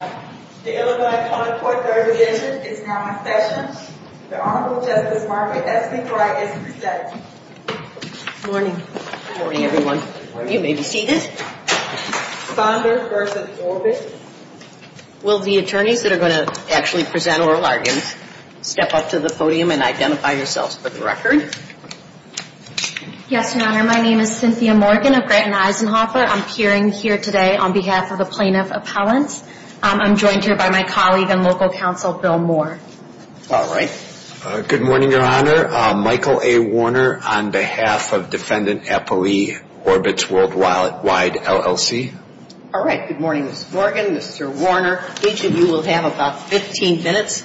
The Illinois 24th-Third Division is now in session. The Honorable Justice Margaret S. McBride is presenting. Good morning. Good morning, everyone. You may be seated. Saunders v. Orbitz. Will the attorneys that are going to actually present oral arguments step up to the podium and identify yourselves for the record? Yes, Your Honor. My name is Cynthia Morgan of Grant and Eisenhoffer. I'm appearing here today on behalf of the plaintiff appellants. I'm joined here by my colleague and local counsel, Bill Moore. All right. Good morning, Your Honor. Michael A. Warner on behalf of Defendant Apoe Orbitz Worldwide, LLC. All right. Good morning, Ms. Morgan, Mr. Warner. Each of you will have about 15 minutes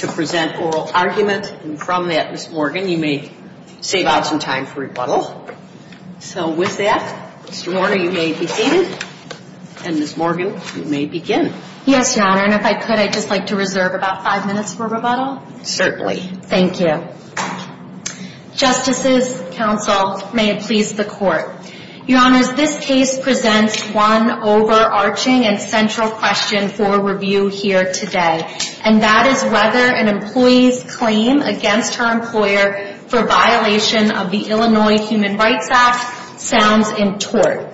to present oral argument. And from that, Ms. Morgan, you may save out some time for rebuttal. So with that, Mr. Warner, you may be seated. And Ms. Morgan, you may begin. Yes, Your Honor. And if I could, I'd just like to reserve about five minutes for rebuttal. Certainly. Thank you. Justices, counsel, may it please the Court. Your Honors, this case presents one overarching and central question for review here today. And that is whether an employee's claim against her employer for violation of the Illinois Human Rights Act sounds in tort.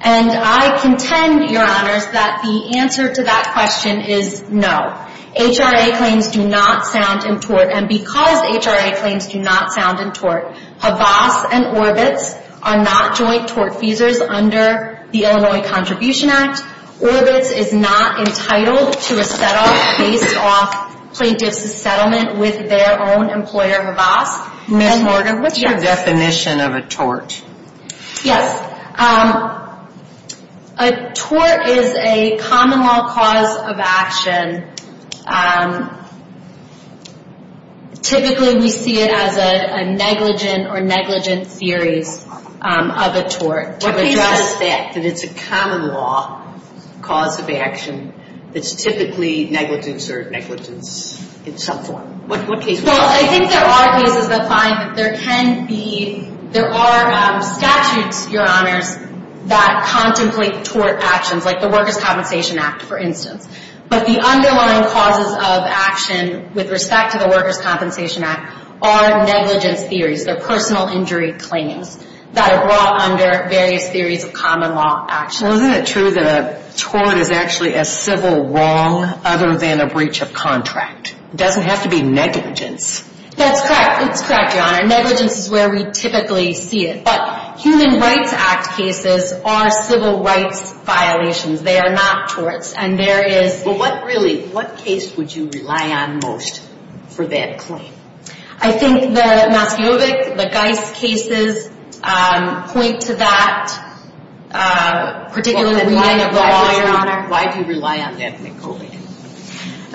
And I contend, Your Honors, that the answer to that question is no. HRA claims do not sound in tort. And because HRA claims do not sound in tort, HAVAS and Orbitz are not joint tort feasors under the Illinois Contribution Act. Orbitz is not entitled to a settle based off plaintiff's settlement with their own employer, HAVAS. Ms. Morgan, what's your definition of a tort? Yes. A tort is a common law cause of action. Typically, we see it as a negligent or negligent series of a tort. To address that, that it's a common law cause of action that's typically negligence or negligence in some form. Well, I think there are cases that find that there can be, there are statutes, Your Honors, that contemplate tort actions, like the Workers' Compensation Act, for instance. But the underlying causes of action with respect to the Workers' Compensation Act are negligence theories. They're personal injury claims that are brought under various theories of common law actions. Well, isn't it true that a tort is actually a civil wrong other than a breach of contract? It doesn't have to be negligence. That's correct. It's correct, Your Honor. Negligence is where we typically see it. But Human Rights Act cases are civil rights violations. They are not torts. And there is... Well, what really, what case would you rely on most for that claim? I think the Maskeovic, the Geis cases, point to that particular reading of the law, Your Honor. Why do you rely on that, Nicole?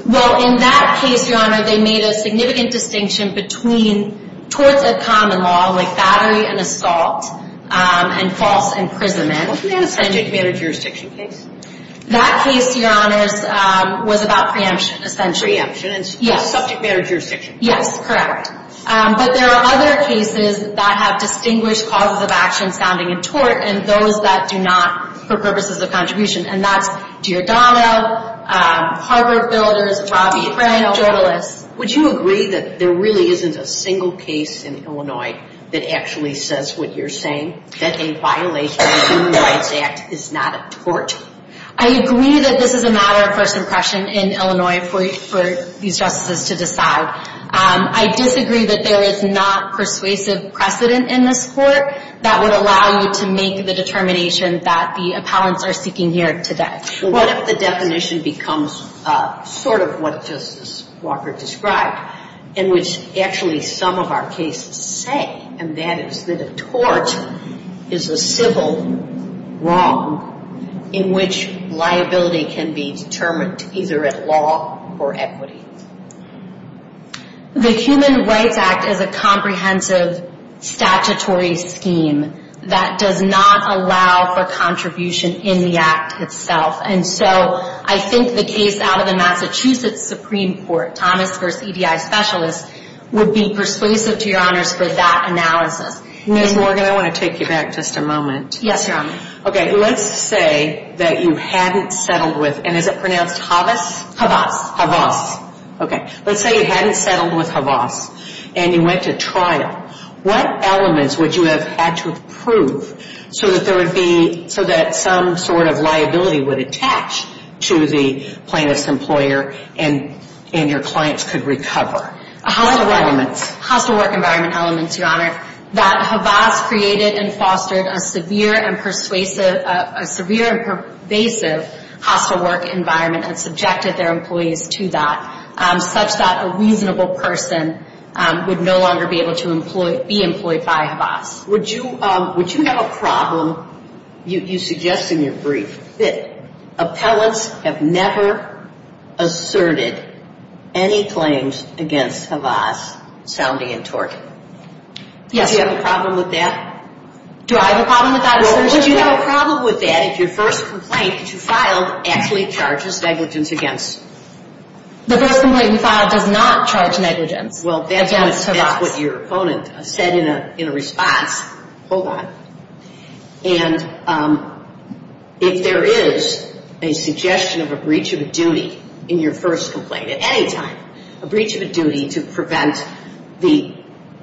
Well, in that case, Your Honor, they made a significant distinction between torts of common law, like battery and assault, and false imprisonment. Wasn't that a subject matter jurisdiction case? That case, Your Honors, was about preemption, essentially. Preemption and subject matter jurisdiction. Yes, correct. But there are other cases that have distinguished causes of action sounding in tort, and those that do not, for purposes of contribution. And that's Giordano, Harvard Builders, Robbie O'Frankel. Would you agree that there really isn't a single case in Illinois that actually says what you're saying? That a violation of Human Rights Act is not a tort? I agree that this is a matter of first impression in Illinois for these justices to decide. I disagree that there is not persuasive precedent in this court that would allow you to make the determination that the appellants are seeking here today. What if the definition becomes sort of what Justice Walker described, in which actually some of our cases say, and that is that a tort is a civil wrong in which liability can be determined either at law or equity? The Human Rights Act is a comprehensive statutory scheme that does not allow for contribution in the Act itself. And so I think the case out of the Massachusetts Supreme Court, Thomas v. EDI Specialist, would be persuasive to Your Honors for that analysis. Ms. Morgan, I want to take you back just a moment. Yes, Your Honor. Okay, let's say that you hadn't settled with, and is it pronounced Havas? Havas. Havas, okay. Let's say you hadn't settled with Havas and you went to trial. What elements would you have had to approve so that there would be, so that some sort of liability would attach to the plaintiff's employer and your clients could recover? Hostile work environment. Hostile work environment elements, Your Honor. That Havas created and fostered a severe and persuasive hostile work environment and subjected their employees to that, such that a reasonable person would no longer be able to be employed by Havas. Would you have a problem, you suggest in your brief, that appellants have never asserted any claims against Havas sounding in tort? Yes. Do you have a problem with that? Do I have a problem with that assertion? Well, would you have a problem with that if your first complaint that you filed actually charges negligence against? The first complaint we filed does not charge negligence against Havas. Well, that's what your opponent said in a response. Hold on. And if there is a suggestion of a breach of a duty in your first complaint at any time, a breach of a duty to prevent the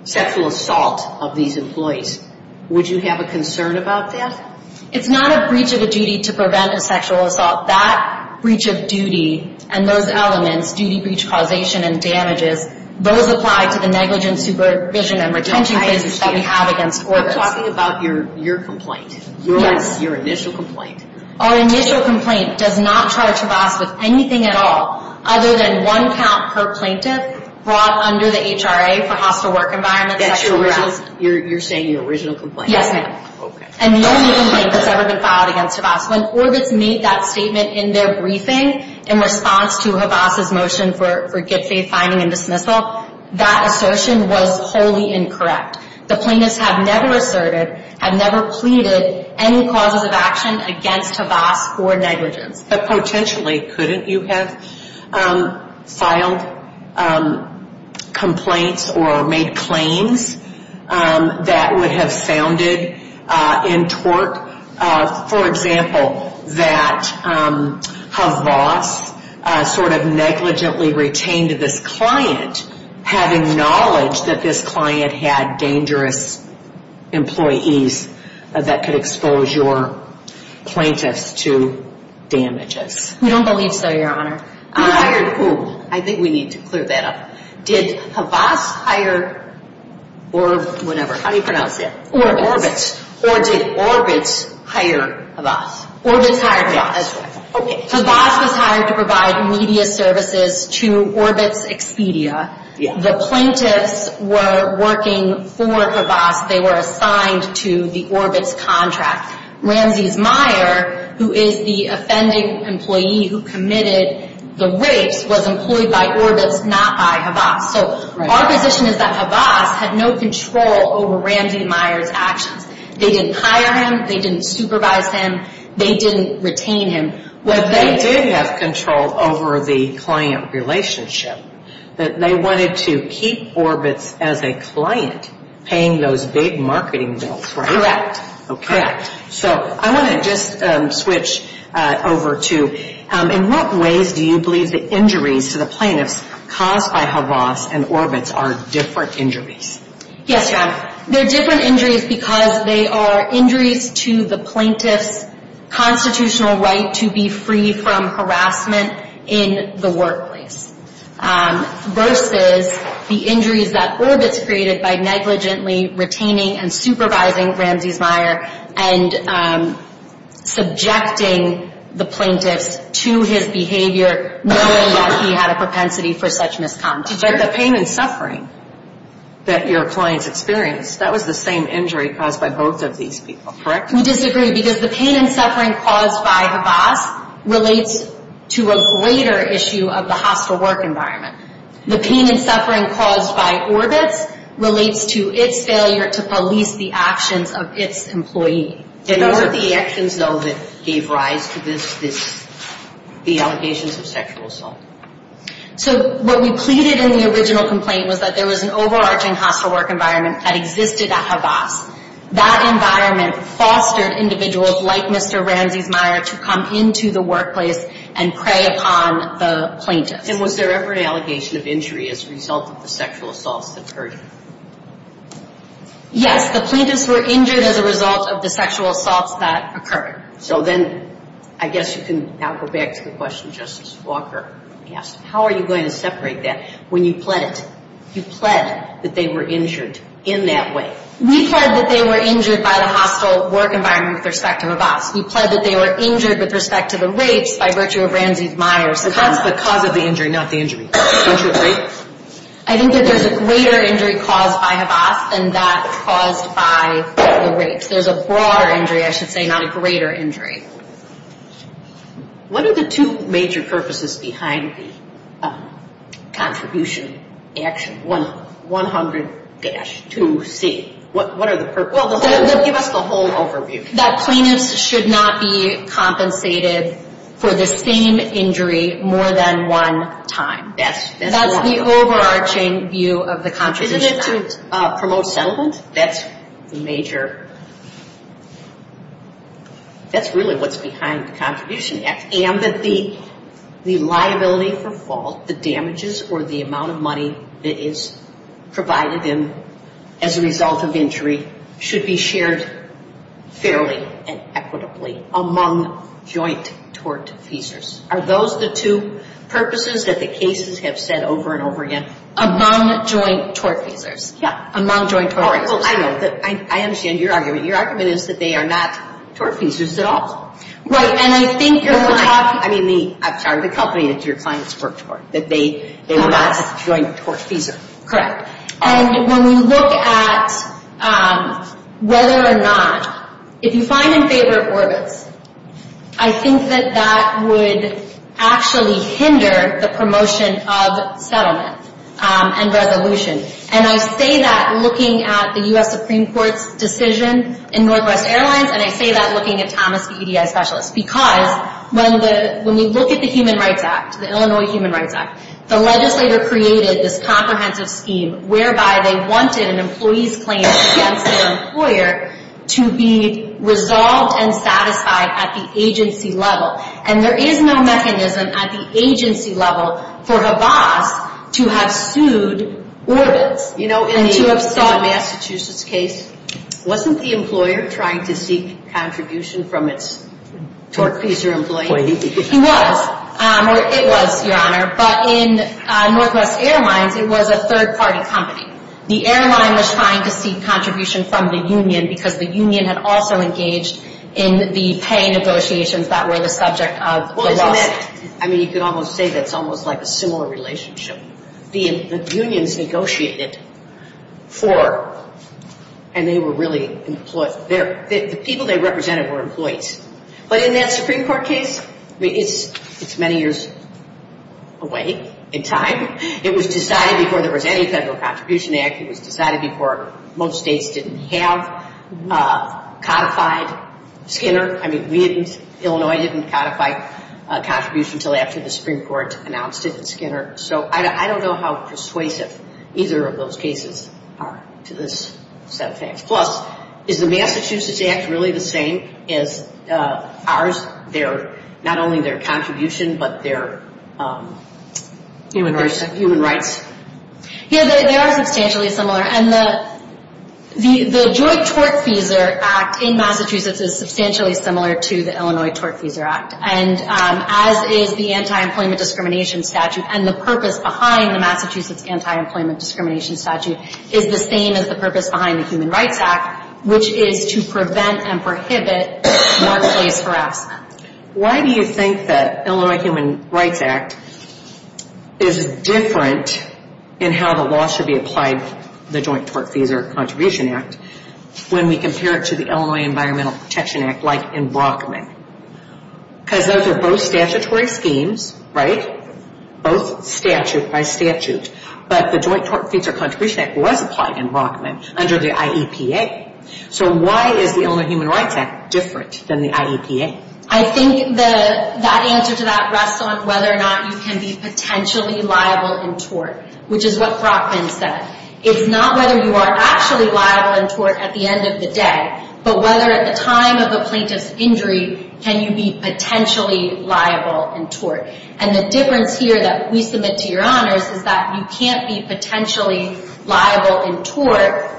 sexual assault of these employees, would you have a concern about that? It's not a breach of a duty to prevent a sexual assault. That breach of duty and those elements, duty breach causation and damages, those apply to the negligence supervision and retention cases that we have against Orbitz. I'm talking about your complaint. Yes. Your initial complaint. Our initial complaint does not charge Havas with anything at all, other than one count per plaintiff brought under the HRA for hostile work environment sexual assault. You're saying your original complaint? Yes, ma'am. Okay. And the only complaint that's ever been filed against Havas. When Orbitz made that statement in their briefing in response to Havas' motion for GetFaithFinding and dismissal, that assertion was wholly incorrect. The plaintiffs have never asserted, have never pleaded any causes of action against Havas for negligence. But potentially, couldn't you have filed complaints or made claims that would have sounded in tort? For example, that Havas sort of negligently retained this client, having knowledge that this client had dangerous employees that could expose your plaintiffs to damages. We don't believe so, Your Honor. Who hired who? I think we need to clear that up. Did Havas hire or whatever, how do you pronounce that? Orbitz. Or did Orbitz hire Havas? Orbitz hired Havas. Okay. Havas was hired to provide media services to Orbitz Expedia. The plaintiffs were working for Havas. They were assigned to the Orbitz contract. Ramses Meyer, who is the offending employee who committed the rapes, was employed by Orbitz, not by Havas. They didn't hire him. They didn't supervise him. They didn't retain him. They did have control over the client relationship. They wanted to keep Orbitz as a client paying those big marketing bills, right? Correct. Okay. So I want to just switch over to in what ways do you believe the injuries to the plaintiffs caused by Havas and Orbitz are different injuries? Yes, Your Honor. They're different injuries because they are injuries to the plaintiff's constitutional right to be free from harassment in the workplace versus the injuries that Orbitz created by negligently retaining and supervising Ramses Meyer and subjecting the plaintiffs to his behavior knowing that he had a propensity for such misconduct. But the pain and suffering that your clients experienced, that was the same injury caused by both of these people, correct? We disagree because the pain and suffering caused by Havas relates to a greater issue of the hostile work environment. The pain and suffering caused by Orbitz relates to its failure to police the actions of its employee. And what were the actions, though, that gave rise to this, the allegations of sexual assault? So what we pleaded in the original complaint was that there was an overarching hostile work environment that existed at Havas. That environment fostered individuals like Mr. Ramses Meyer to come into the workplace and prey upon the plaintiffs. And was there ever an allegation of injury as a result of the sexual assaults that occurred? Yes, the plaintiffs were injured as a result of the sexual assaults that occurred. So then I guess you can now go back to the question Justice Walker asked. How are you going to separate that when you pled it? You pled that they were injured in that way. We pled that they were injured by the hostile work environment with respect to Havas. We pled that they were injured with respect to the rapes by virtue of Ramses Meyer. The cause of the injury, not the injury. I think that there's a greater injury caused by Havas than that caused by the rapes. There's a broader injury, I should say, not a greater injury. What are the two major purposes behind the contribution action 100-2C? What are the purposes? Give us the whole overview. That plaintiffs should not be compensated for the same injury more than one time. That's the overarching view of the contribution action. Isn't it to promote settlement? That's the major – that's really what's behind the contribution act. And that the liability for fault, the damages or the amount of money that is provided as a result of injury should be shared fairly and equitably among joint tort feasors. Are those the two purposes that the cases have said over and over again? Among joint tort feasors. Yeah. Among joint tort feasors. I understand your argument. Your argument is that they are not tort feasors at all. Right. And I think you're – I'm sorry, the company that your clients work for, that they are not a joint tort feasor. Correct. And when we look at whether or not – if you find in favor of Orbitz, I think that that would actually hinder the promotion of settlement and resolution. And I say that looking at the U.S. Supreme Court's decision in Northwest Airlines, and I say that looking at Thomas, the EDI specialist. Because when we look at the Human Rights Act, the Illinois Human Rights Act, the legislator created this comprehensive scheme whereby they wanted an employee's claim against their employer to be resolved and satisfied at the agency level. And there is no mechanism at the agency level for Habas to have sued Orbitz. You know, in the Massachusetts case, wasn't the employer trying to seek contribution from its tort feasor employee? He was. Or it was, Your Honor. But in Northwest Airlines, it was a third-party company. The airline was trying to seek contribution from the union because the union had also engaged in the pay negotiations that were the subject of the lawsuit. Well, isn't that – I mean, you could almost say that's almost like a similar relationship. The unions negotiated for – and they were really – the people they represented were employees. But in that Supreme Court case, it's many years away in time. It was decided before there was any Federal Contribution Act. It was decided before most states didn't have codified Skinner. I mean, we didn't – Illinois didn't codify contribution until after the Supreme Court announced it in Skinner. So I don't know how persuasive either of those cases are to this set of facts. Plus, is the Massachusetts Act really the same as ours, not only their contribution but their human rights? Yeah, they are substantially similar. And the Joint Tortfeasor Act in Massachusetts is substantially similar to the Illinois Tortfeasor Act, as is the anti-employment discrimination statute. And the purpose behind the Massachusetts anti-employment discrimination statute is the same as the purpose behind the Human Rights Act, which is to prevent and prohibit workplace harassment. Why do you think the Illinois Human Rights Act is different in how the law should be applied to the Joint Tortfeasor Contribution Act when we compare it to the Illinois Environmental Protection Act like in Brockman? Because those are both statutory schemes, right? Both statute by statute. But the Joint Tortfeasor Contribution Act was applied in Brockman under the IEPA. So why is the Illinois Human Rights Act different than the IEPA? I think that answer to that rests on whether or not you can be potentially liable in tort, which is what Brockman said. It's not whether you are actually liable in tort at the end of the day, but whether at the time of a plaintiff's injury can you be potentially liable in tort. And the difference here that we submit to your honors is that you can't be potentially liable in tort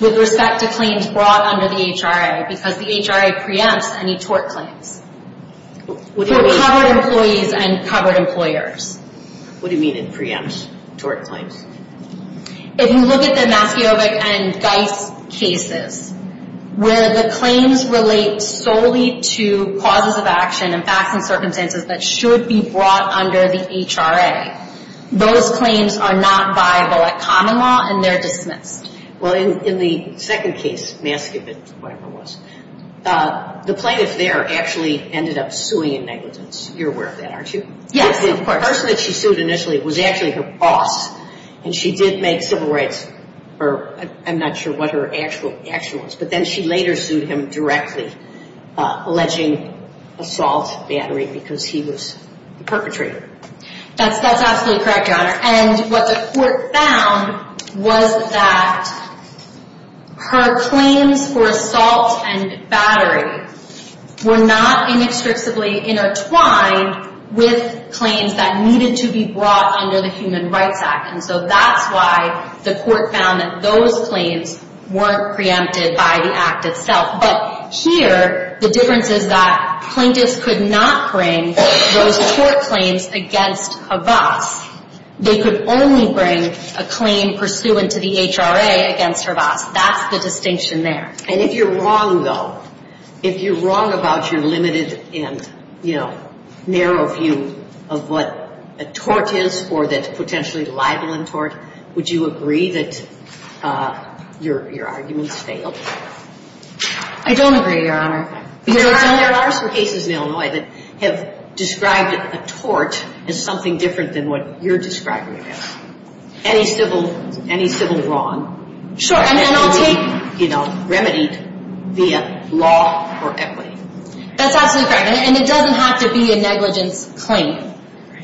with respect to claims brought under the HRA because the HRA preempts any tort claims for covered employees and covered employers. What do you mean it preempts tort claims? If you look at the MacIovic and Geis cases, where the claims relate solely to causes of action and facts and circumstances that should be brought under the HRA, those claims are not viable at common law and they're dismissed. Well, in the second case, MacIovic, whatever it was, the plaintiff there actually ended up suing in negligence. You're aware of that, aren't you? Yes, of course. The person that she sued initially was actually her boss, and she did make civil rights, or I'm not sure what her actual action was, but then she later sued him directly, alleging assault, battery, because he was the perpetrator. That's absolutely correct, your honor. And what the court found was that her claims for assault and battery were not inextricably intertwined with claims that needed to be brought under the Human Rights Act. And so that's why the court found that those claims weren't preempted by the act itself. But here, the difference is that plaintiffs could not bring those court claims against a boss. They could only bring a claim pursuant to the HRA against her boss. That's the distinction there. And if you're wrong, though, if you're wrong about your limited and, you know, narrow view of what a tort is or that potentially libel and tort, would you agree that your arguments failed? I don't agree, your honor. There are some cases in Illinois that have described a tort as something different than what you're describing it as. Any civil wrong can be, you know, remedied via law or equity. That's absolutely correct, and it doesn't have to be a negligence claim.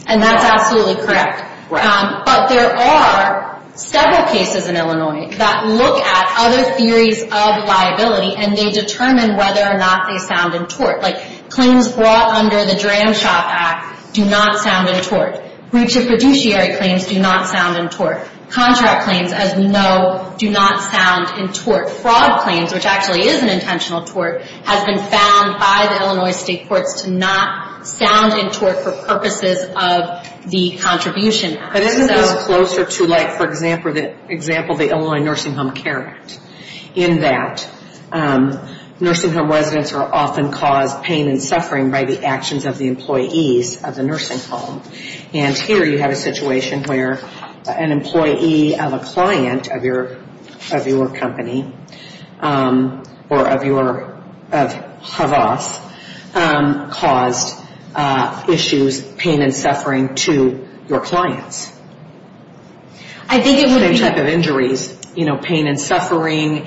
And that's absolutely correct. But there are several cases in Illinois that look at other theories of liability and they determine whether or not they sound in tort. Like, claims brought under the Dram Shop Act do not sound in tort. Breach of fiduciary claims do not sound in tort. Contract claims, as we know, do not sound in tort. Fraud claims, which actually is an intentional tort, has been found by the Illinois state courts to not sound in tort for purposes of the contribution. But isn't this closer to, like, for example, the Illinois Nursing Home Care Act, in that nursing home residents are often caused pain and suffering by the actions of the employees of the nursing home. And here you have a situation where an employee of a client of your company or of your, of Havas, caused issues, pain and suffering, to your clients. I think it would be... Same type of injuries, you know, pain and suffering,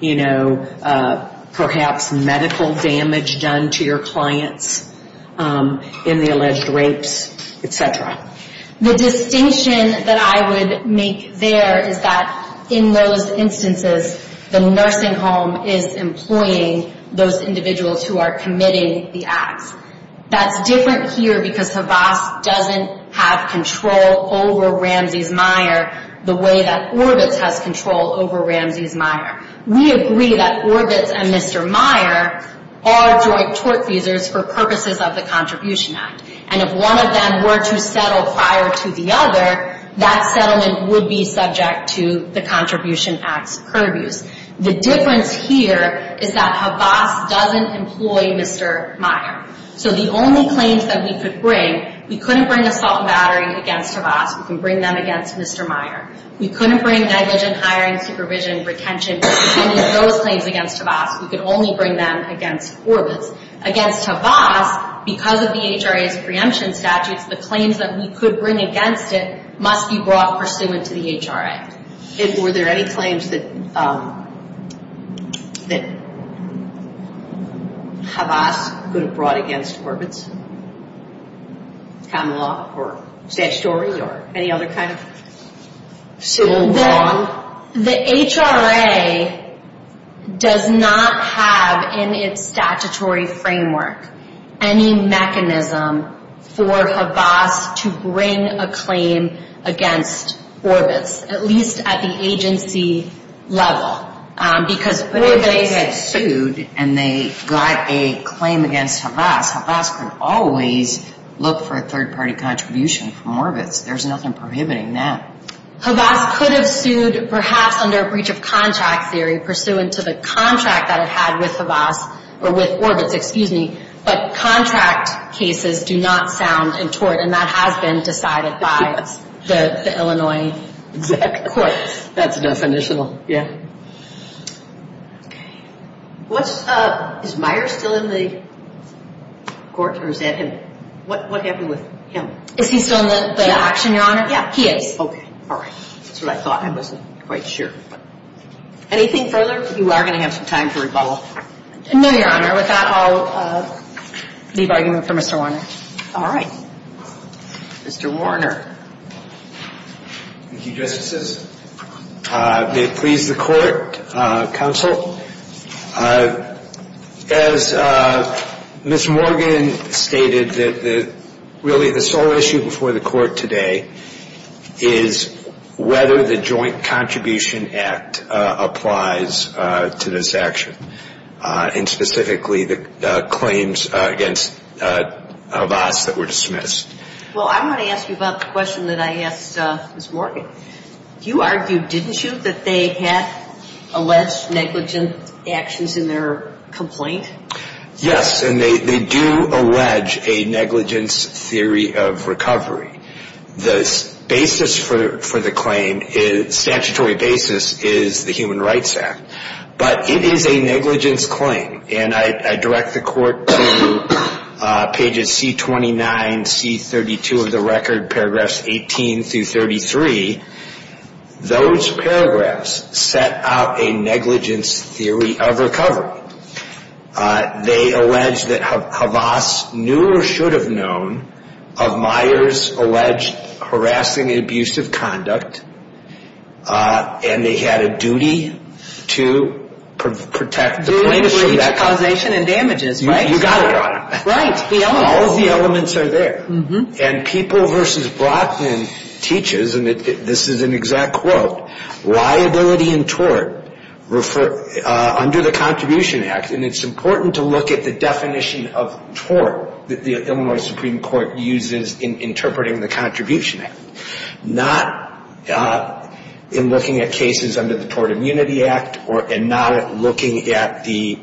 you know, perhaps medical damage done to your clients in the alleged rapes, et cetera. The distinction that I would make there is that in those instances, the nursing home is employing those individuals who are committing the acts. That's different here because Havas doesn't have control over Ramsey's Meyer the way that Orbitz has control over Ramsey's Meyer. We agree that Orbitz and Mr. Meyer are joint tort feasors for purposes of the Contribution Act. And if one of them were to settle prior to the other, that settlement would be subject to the Contribution Act's purviews. The difference here is that Havas doesn't employ Mr. Meyer. So the only claims that we could bring, we couldn't bring assault and battery against Havas. We can bring them against Mr. Meyer. We couldn't bring negligent hiring, supervision, retention, any of those claims against Havas. We could only bring them against Orbitz. Against Havas, because of the HRA's preemption statutes, the claims that we could bring against it must be brought pursuant to the HRA. Were there any claims that Havas could have brought against Orbitz? Common law or statutory or any other kind of civil law? The HRA does not have in its statutory framework any mechanism for Havas to bring a claim against Orbitz, at least at the agency level. But if they had sued and they got a claim against Havas, Havas could always look for a third-party contribution from Orbitz. There's nothing prohibiting that. Havas could have sued perhaps under a breach of contract theory pursuant to the contract that it had with Orbitz, but contract cases do not sound in tort, and that has been decided by the Illinois courts. That's definitional, yeah. Is Meyer still in the court, or is that him? What happened with him? Is he still in the action, Your Honor? Yeah, he is. Okay, all right. That's what I thought. I wasn't quite sure. Anything further? You are going to have some time for rebuttal. No, Your Honor. With that, I'll leave argument for Mr. Warner. All right. Mr. Warner. Thank you, Justices. May it please the Court, Counsel. As Ms. Morgan stated, really the sole issue before the Court today is whether the Joint Contribution Act applies to this action, and specifically the claims against Havas that were dismissed. Well, I want to ask you about the question that I asked Ms. Morgan. You argued, didn't you, that they have alleged negligent actions in their complaint? Yes, and they do allege a negligence theory of recovery. The basis for the claim, statutory basis, is the Human Rights Act. But it is a negligence claim, and I direct the Court to pages C-29, C-32 of the record, paragraphs 18 through 33. Those paragraphs set out a negligence theory of recovery. They allege that Havas knew or should have known of Myers' alleged harassing and abusive conduct, and they had a duty to protect the plaintiff from that conduct. Duty, breach, causation, and damages, right? You got it, Your Honor. Right. All of the elements are there. And People v. Brocklin teaches, and this is an exact quote, liability and tort under the Contribution Act, and it's important to look at the definition of tort that the Illinois Supreme Court uses in interpreting the Contribution Act, not in looking at cases under the Tort Immunity Act and not looking at the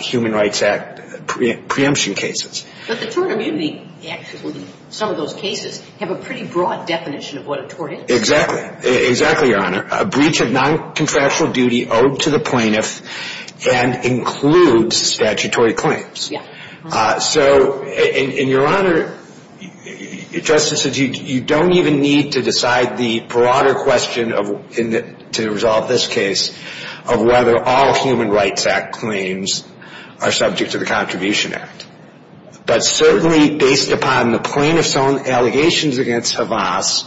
Human Rights Act preemption cases. But the Tort Immunity Act, some of those cases, have a pretty broad definition of what a tort is. Exactly. Exactly, Your Honor. A breach of noncontractual duty owed to the plaintiff and includes statutory claims. Yeah. So, and Your Honor, Justice, you don't even need to decide the broader question to resolve this case of whether all Human Rights Act claims are subject to the Contribution Act. But certainly, based upon the plaintiff's own allegations against Tavas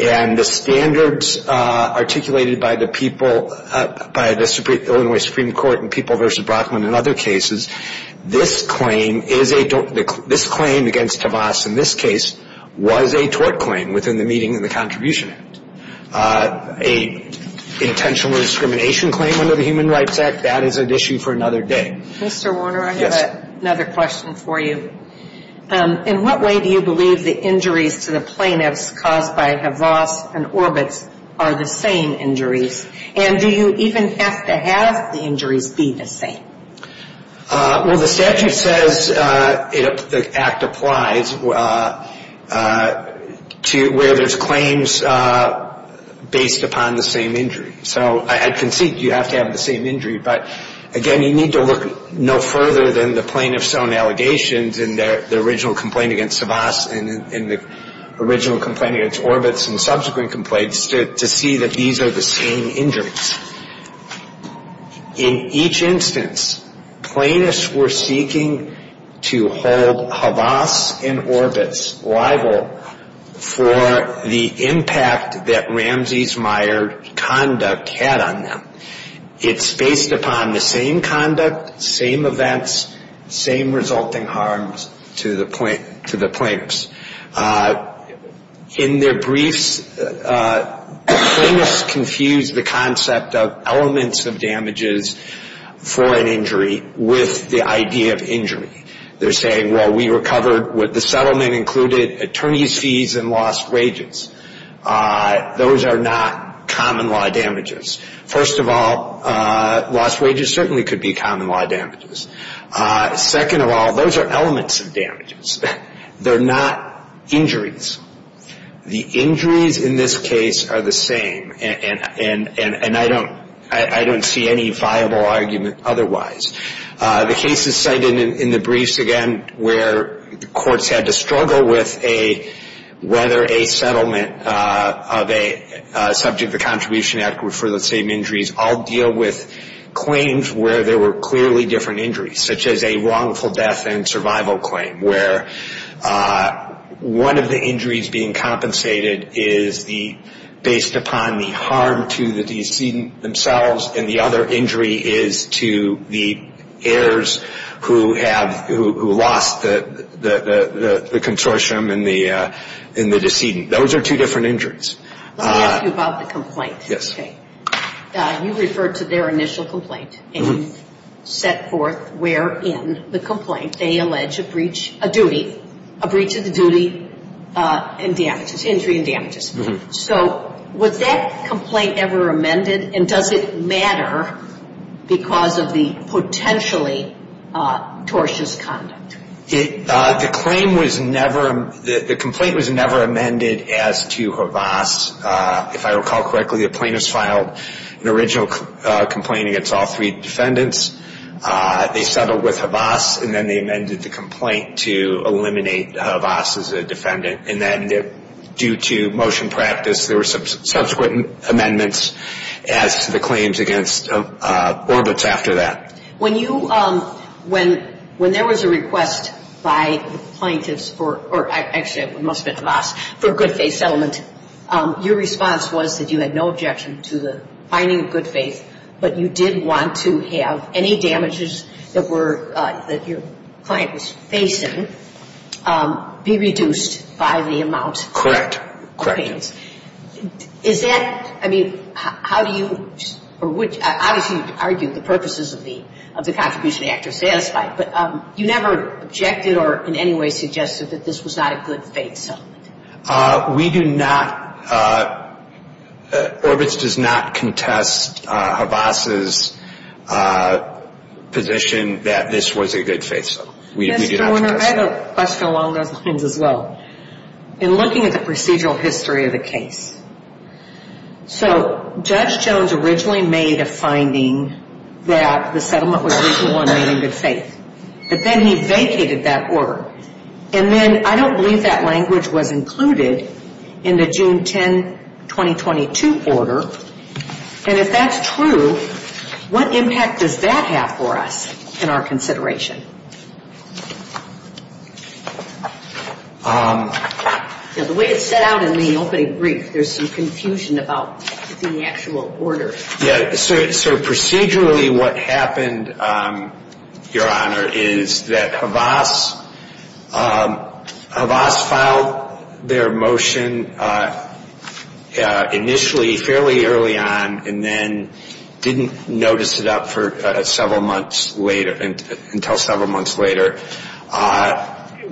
and the standards articulated by the people, by the Illinois Supreme Court in People v. Brocklin and other cases, this claim is a, this claim against Tavas in this case was a tort claim within the meeting of the Contribution Act. An intentional discrimination claim under the Human Rights Act, that is an issue for another day. Mr. Warner, I have another question for you. In what way do you believe the injuries to the plaintiffs caused by Tavas and Orbitz are the same injuries? And do you even have to have the injuries be the same? Well, the statute says the act applies to where there's claims based upon the same injury. So I concede you have to have the same injury. But, again, you need to look no further than the plaintiff's own allegations and the original complaint against Tavas and the original complaint against Orbitz and subsequent complaints to see that these are the same injuries. In each instance, plaintiffs were seeking to hold Tavas and Orbitz liable for the impact that Ramsey's Meyer conduct had on them. It's based upon the same conduct, same events, same resulting harms to the plaintiffs. In their briefs, plaintiffs confuse the concept of elements of damages for an injury with the idea of injury. They're saying, well, we recovered what the settlement included, attorneys' fees and lost wages. Those are not common-law damages. First of all, lost wages certainly could be common-law damages. Second of all, those are elements of damages. They're not injuries. The injuries in this case are the same, and I don't see any viable argument otherwise. The cases cited in the briefs, again, where courts had to struggle with whether a settlement of a subject of the Contribution Act were for the same injuries all deal with claims where there were clearly different injuries, such as a wrongful death and survival claim, where one of the injuries being compensated is based upon the harm to the decedent themselves and the other injury is to the heirs who lost the consortium and the decedent. Those are two different injuries. Let me ask you about the complaint. Yes. You referred to their initial complaint, and you set forth where in the complaint they allege a breach, a duty, a breach of the duty and damages, injury and damages. So was that complaint ever amended, and does it matter because of the potentially tortious conduct? The claim was never ‑‑ the complaint was never amended as to Havas. If I recall correctly, the plaintiffs filed an original complaint against all three defendants. They settled with Havas, and then they amended the complaint to eliminate Havas as a defendant, and then due to motion practice, there were subsequent amendments as to the claims against Orbitz after that. When you ‑‑ when there was a request by the plaintiffs for, or actually it must have been Havas, for a good faith settlement, your response was that you had no objection to the finding of good faith, but you did want to have any damages that were ‑‑ that your client was facing be reduced by the amount. Correct. Correct. Is that ‑‑ I mean, how do you ‑‑ or which ‑‑ obviously you argued the purposes of the contribution of the act are satisfied, but you never objected or in any way suggested that this was not a good faith settlement. We do not ‑‑ Orbitz does not contest Havas' position that this was a good faith settlement. We do not contest that. I have a question along those lines as well. In looking at the procedural history of the case, so Judge Jones originally made a finding that the settlement was reasonable and made in good faith, but then he vacated that order. And then I don't believe that language was included in the June 10, 2022 order. And if that's true, what impact does that have for us in our consideration? The way it's set out in the opening brief, there's some confusion about the actual order. Yeah, so procedurally what happened, Your Honor, is that Havas filed their motion initially fairly early on and then didn't notice it up for several months later, until several months later.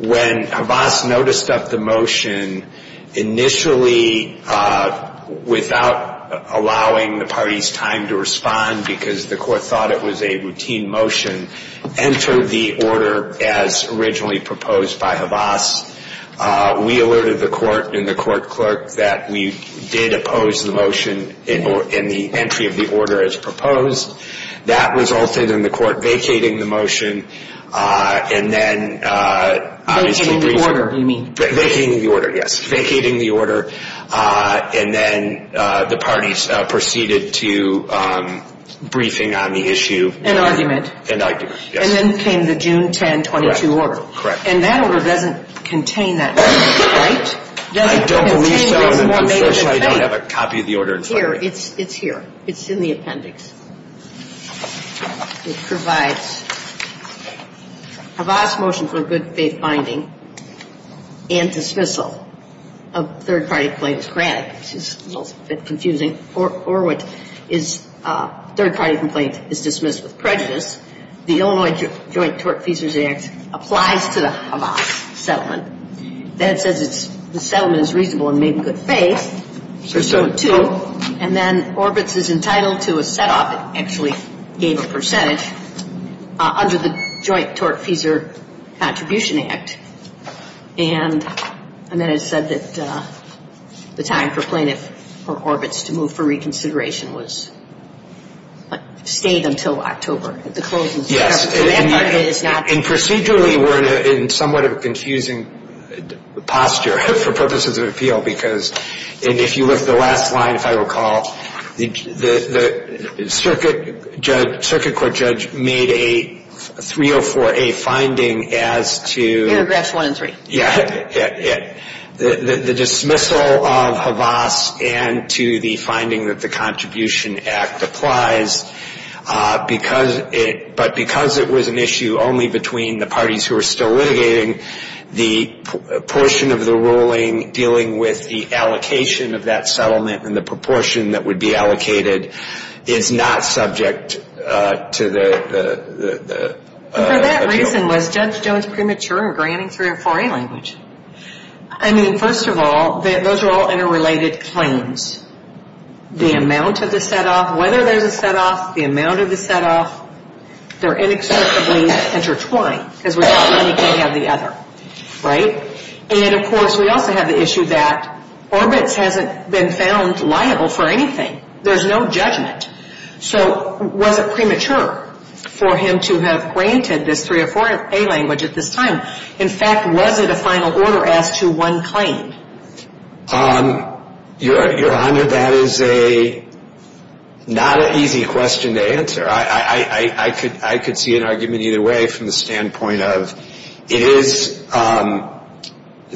When Havas noticed up the motion, initially without allowing the party's time to respond because the court thought it was a routine motion, entered the order as originally proposed by Havas. We alerted the court and the court clerk that we did oppose the motion in the entry of the order as proposed. That resulted in the court vacating the motion and then obviously briefing. Vacating the order, you mean? Vacating the order, yes. Vacating the order. And then the parties proceeded to briefing on the issue. And argument. And argument, yes. And then came the June 10, 2022 order. Correct. And that order doesn't contain that motion, right? I don't have a copy of the order in front of me. Here, it's here. It's in the appendix. It provides Havas' motion for good faith finding and dismissal of third-party complaints granted, which is a little bit confusing, or which is third-party complaint is dismissed with prejudice. The Illinois Joint Tort Feasers Act applies to the Havas settlement. That says the settlement is reasonable and made in good faith. And then Orbitz is entitled to a setup, actually gave a percentage, under the Joint Tort Feasers Contribution Act. And then it said that the time for plaintiff or Orbitz to move for reconsideration stayed until October. And procedurally, we're in somewhat of a confusing posture for purposes of appeal because, and if you look at the last line, if I recall, the circuit court judge made a 304A finding as to Paragraphs one and three. Yeah. The dismissal of Havas and to the finding that the Contribution Act applies. But because it was an issue only between the parties who were still litigating, the portion of the ruling dealing with the allocation of that settlement and the proportion that would be allocated is not subject to the appeal. And for that reason, was Judge Jones premature in granting 304A language? I mean, first of all, those are all interrelated claims. The amount of the set-off, whether there's a set-off, the amount of the set-off, they're inextricably intertwined because we don't really have the other. Right? And then, of course, we also have the issue that Orbitz hasn't been found liable for anything. There's no judgment. So was it premature for him to have granted this 304A language at this time? In fact, was it a final order as to one claim? Your Honor, that is not an easy question to answer. I could see an argument either way from the standpoint of it is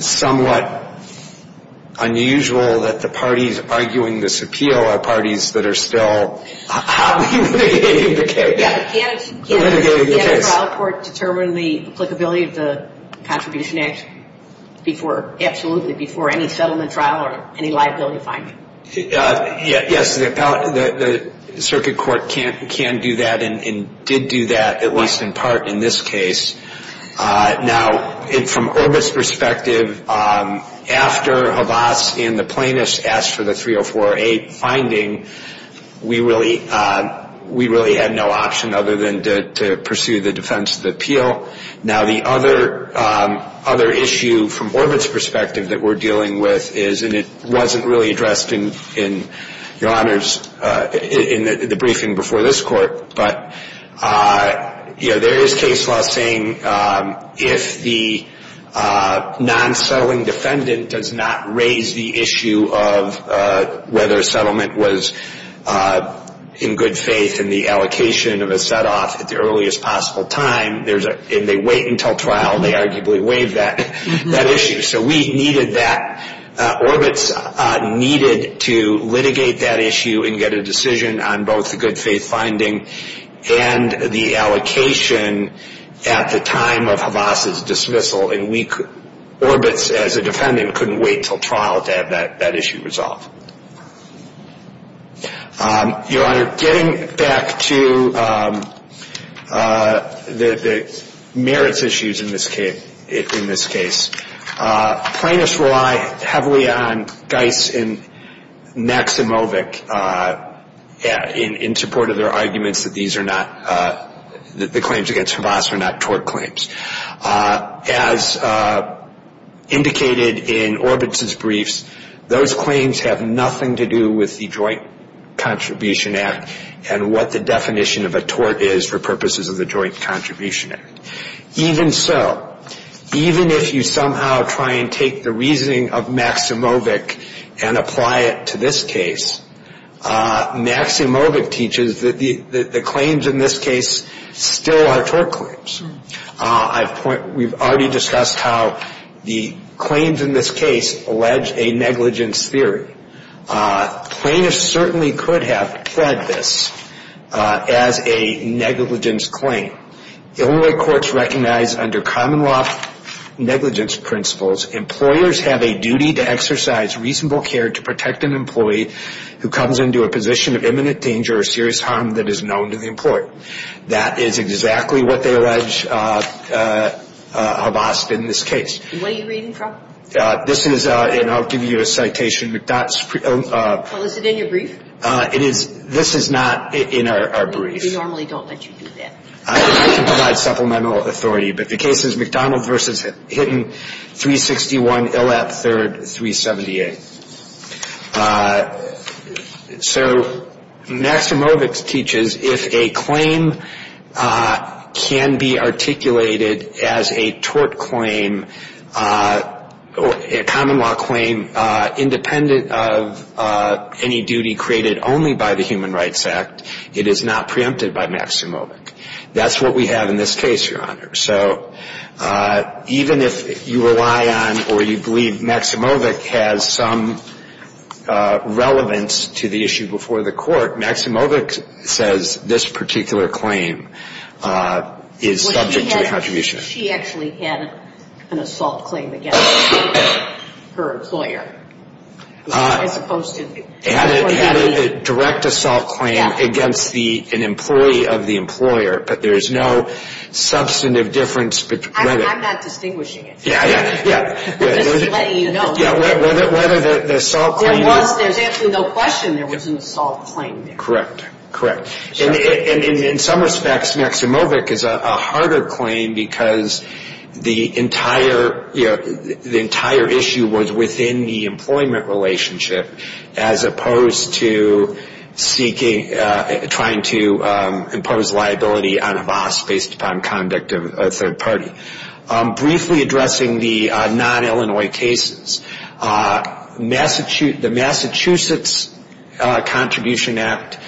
somewhat unusual that the parties arguing this appeal are parties that are still happily litigating the case. Can a trial court determine the applicability of the Contribution Act absolutely before any settlement trial or any liability finding? Yes, the circuit court can do that and did do that, at least in part, in this case. Now, from Orbitz's perspective, after Havas and the plaintiffs asked for the 304A finding, we really had no option other than to pursue the defense of the appeal. Now, the other issue from Orbitz's perspective that we're dealing with is, and it wasn't really addressed in the briefing before this court, but there is case law saying if the non-settling defendant does not raise the issue of whether a settlement was in good faith and the allocation of a set-off at the earliest possible time, and they wait until trial, they arguably waive that issue. So we needed that. Orbitz needed to litigate that issue and get a decision on both the good faith finding and the allocation at the time of Havas' dismissal. And Orbitz, as a defendant, couldn't wait until trial to have that issue resolved. Your Honor, getting back to the merits issues in this case, plaintiffs rely heavily on Geis and Maximovic in support of their arguments that these are not, that the claims against Havas are not tort claims. As indicated in Orbitz's briefs, those claims have nothing to do with the Joint Contribution Act and what the definition of a tort is for purposes of the Joint Contribution Act. Even so, even if you somehow try and take the reasoning of Maximovic and apply it to this case, Maximovic teaches that the claims in this case still are tort claims. We've already discussed how the claims in this case allege a negligence theory. Plaintiffs certainly could have pled this as a negligence claim. Illinois courts recognize under common law negligence principles, employers have a duty to exercise reasonable care to protect an employee who comes into a position of imminent danger or serious harm that is known to the employer. That is exactly what they allege Havas did in this case. What are you reading from? This is, and I'll give you a citation. Well, is it in your brief? This is not in our brief. We normally don't let you do that. I can provide supplemental authority, but the case is McDonald v. Hinton, 361 Illap 3rd, 378. So Maximovic teaches if a claim can be articulated as a tort claim, a common law claim, independent of any duty created only by the Human Rights Act, it is not preempted by Maximovic. That's what we have in this case, Your Honor. So even if you rely on or you believe Maximovic has some relevance to the issue before the court, Maximovic says this particular claim is subject to the attribution. She actually had an assault claim against her employer. Had a direct assault claim against an employee of the employer, but there's no substantive difference. I'm not distinguishing it. Yeah, yeah, yeah. I'm just letting you know. Whether the assault claim was. There was, there's absolutely no question there was an assault claim there. Correct, correct. And in some respects, Maximovic is a harder claim because the entire, you know, the entire issue was within the employment relationship as opposed to seeking, trying to impose liability on a boss based upon conduct of a third party. Briefly addressing the non-Illinois cases, the Massachusetts Contribution Act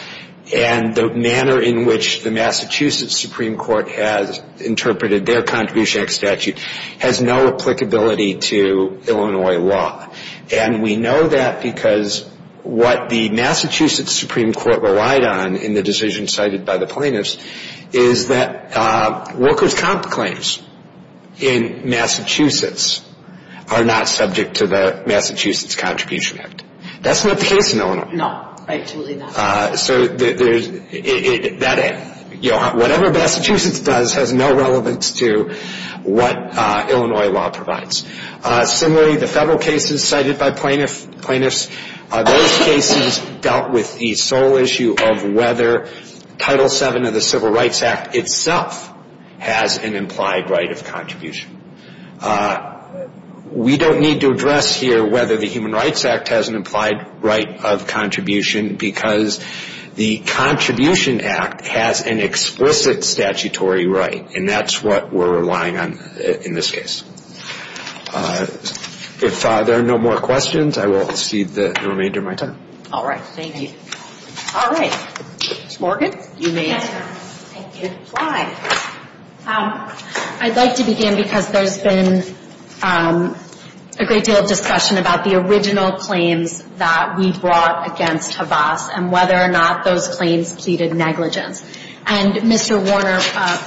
and the manner in which the Massachusetts Supreme Court has interpreted their Contribution Act statute has no applicability to Illinois law. And we know that because what the Massachusetts Supreme Court relied on in the decision cited by the plaintiffs is that workers' comp claims in Massachusetts are not subject to the Massachusetts Contribution Act. That's not the case in Illinois. No, absolutely not. So whatever Massachusetts does has no relevance to what Illinois law provides. Similarly, the federal cases cited by plaintiffs, those cases dealt with the sole issue of whether Title VII of the Civil Rights Act itself has an implied right of contribution. We don't need to address here whether the Human Rights Act has an implied right of contribution because the Contribution Act has an explicit statutory right, and that's what we're relying on in this case. If there are no more questions, I will cede the remainder of my time. All right. Thank you. All right. Ms. Morgan, you may answer. Thank you. Go ahead. I'd like to begin because there's been a great deal of discussion about the original claims that we brought against Havas and whether or not those claims pleaded negligence. And Mr. Warner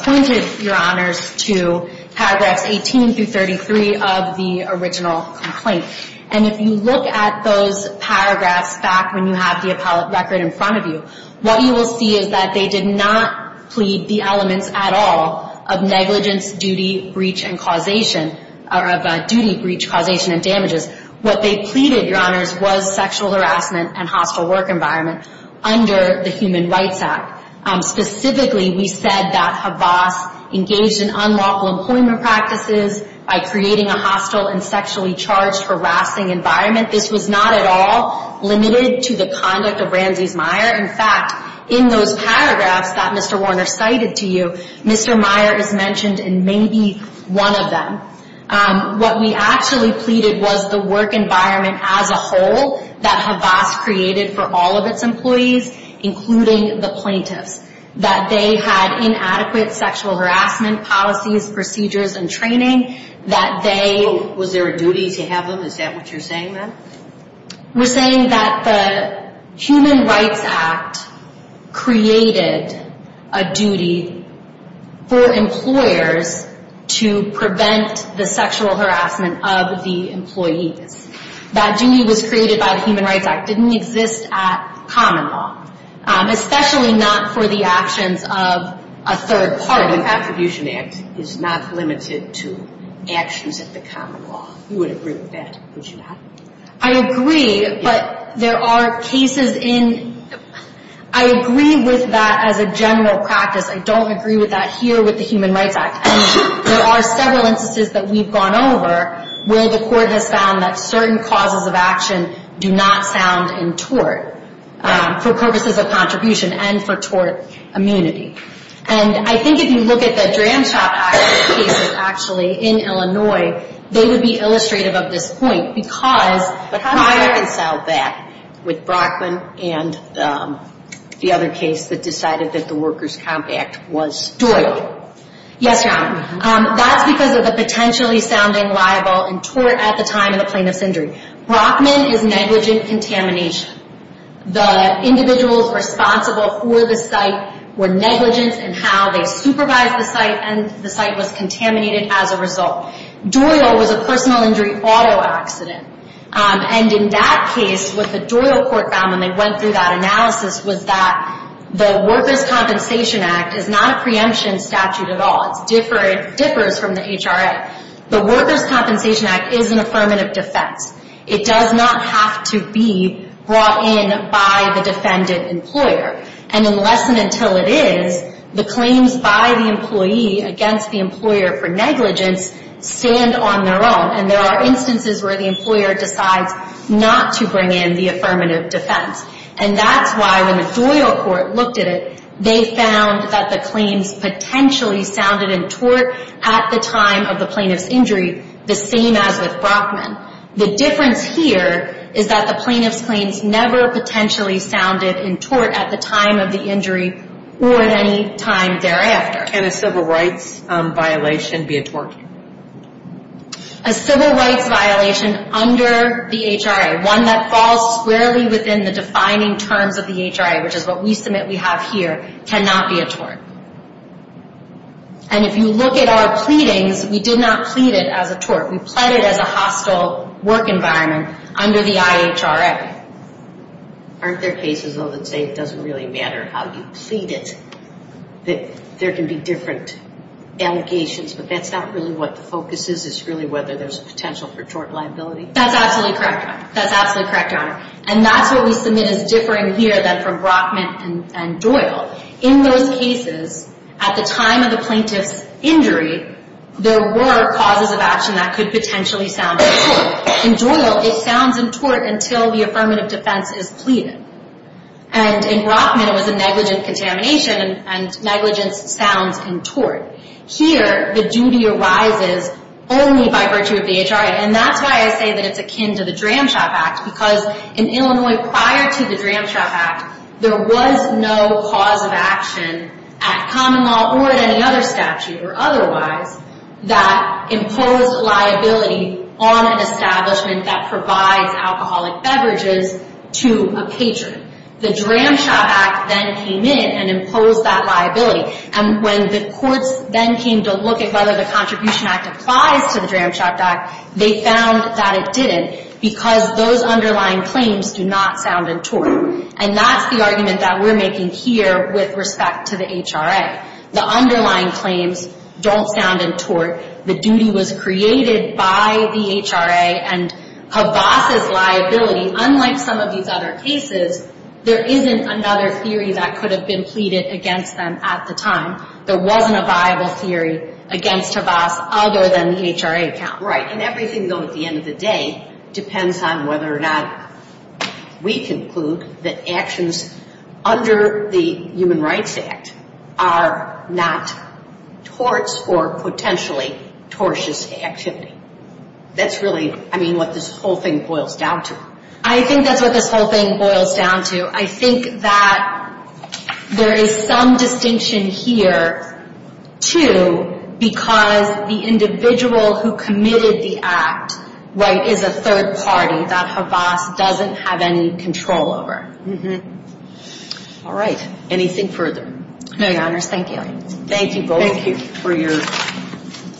pointed, Your Honors, to paragraphs 18 through 33 of the original complaint. And if you look at those paragraphs back when you have the appellate record in front of you, what you will see is that they did not plead the elements at all of negligence, duty, breach, and causation or of duty, breach, causation, and damages. What they pleaded, Your Honors, was sexual harassment and hostile work environment under the Human Rights Act. Specifically, we said that Havas engaged in unlawful employment practices by creating a hostile and sexually charged harassing environment. This was not at all limited to the conduct of Ramses Meyer. In fact, in those paragraphs that Mr. Warner cited to you, Mr. Meyer is mentioned in maybe one of them. What we actually pleaded was the work environment as a whole that Havas created for all of its employees, including the plaintiffs, that they had inadequate sexual harassment policies, procedures, and training, that they Was there a duty to have them? Is that what you're saying, ma'am? We're saying that the Human Rights Act created a duty for employers to prevent the sexual harassment of the employees. That duty was created by the Human Rights Act. It didn't exist at common law, especially not for the actions of a third party. The Attribution Act is not limited to actions at the common law. You would agree with that, would you not? I agree, but there are cases in – I agree with that as a general practice. I don't agree with that here with the Human Rights Act. And there are several instances that we've gone over where the court has found that certain causes of action do not sound in tort, for purposes of contribution and for tort immunity. And I think if you look at the Dram Shop Act cases actually in Illinois, they would be illustrative of this point because – But how do you reconcile that with Brockman and the other case that decided that the Workers' Comp Act was stoical? Yes, Your Honor. That's because of the potentially sounding liable and tort at the time in the plaintiff's injury. Brockman is negligent contamination. The individuals responsible for the site were negligent in how they supervised the site and the site was contaminated as a result. Doyle was a personal injury auto accident. And in that case, what the Doyle court found when they went through that analysis was that the Workers' Compensation Act is not a preemption statute at all. It differs from the HRA. The Workers' Compensation Act is an affirmative defense. It does not have to be brought in by the defendant employer. And unless and until it is, the claims by the employee against the employer for negligence stand on their own. And there are instances where the employer decides not to bring in the affirmative defense. And that's why when the Doyle court looked at it, they found that the claims potentially sounded in tort at the time of the plaintiff's injury the same as with Brockman. The difference here is that the plaintiff's claims never potentially sounded in tort at the time of the injury or at any time thereafter. Can a civil rights violation be a tort? A civil rights violation under the HRA, one that falls squarely within the defining terms of the HRA, which is what we submit we have here, cannot be a tort. And if you look at our pleadings, we did not plead it as a tort. We pled it as a hostile work environment under the IHRA. Aren't there cases, though, that say it doesn't really matter how you plead it? That there can be different allegations, but that's not really what the focus is. It's really whether there's potential for tort liability. That's absolutely correct, Your Honor. That's absolutely correct, Your Honor. And that's what we submit as differing here than from Brockman and Doyle. In those cases, at the time of the plaintiff's injury, there were causes of action that could potentially sound in tort. In Doyle, it sounds in tort until the affirmative defense is pleaded. And in Brockman, it was a negligent contamination, and negligence sounds in tort. Here, the duty arises only by virtue of the HRA. Right, and that's why I say that it's akin to the Dram Shop Act, because in Illinois, prior to the Dram Shop Act, there was no cause of action at common law or at any other statute or otherwise that imposed liability on an establishment that provides alcoholic beverages to a patron. The Dram Shop Act then came in and imposed that liability. And when the courts then came to look at whether the Contribution Act applies to the Dram Shop Act, they found that it didn't because those underlying claims do not sound in tort. And that's the argument that we're making here with respect to the HRA. The underlying claims don't sound in tort. The duty was created by the HRA, and Havas' liability, unlike some of these other cases, there isn't another theory that could have been pleaded against them at the time. There wasn't a viable theory against Havas other than the HRA account. Right, and everything, though, at the end of the day depends on whether or not we conclude that actions under the Human Rights Act are not torts or potentially tortious activity. That's really, I mean, what this whole thing boils down to. I think that's what this whole thing boils down to. I think that there is some distinction here, too, because the individual who committed the act, right, is a third party that Havas doesn't have any control over. Mm-hmm. All right. Anything further? No, Your Honors. Thank you. Thank you both. Thank you. For your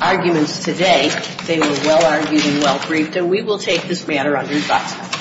arguments today. They were well-argued and well-briefed. And we will take this matter under investigation.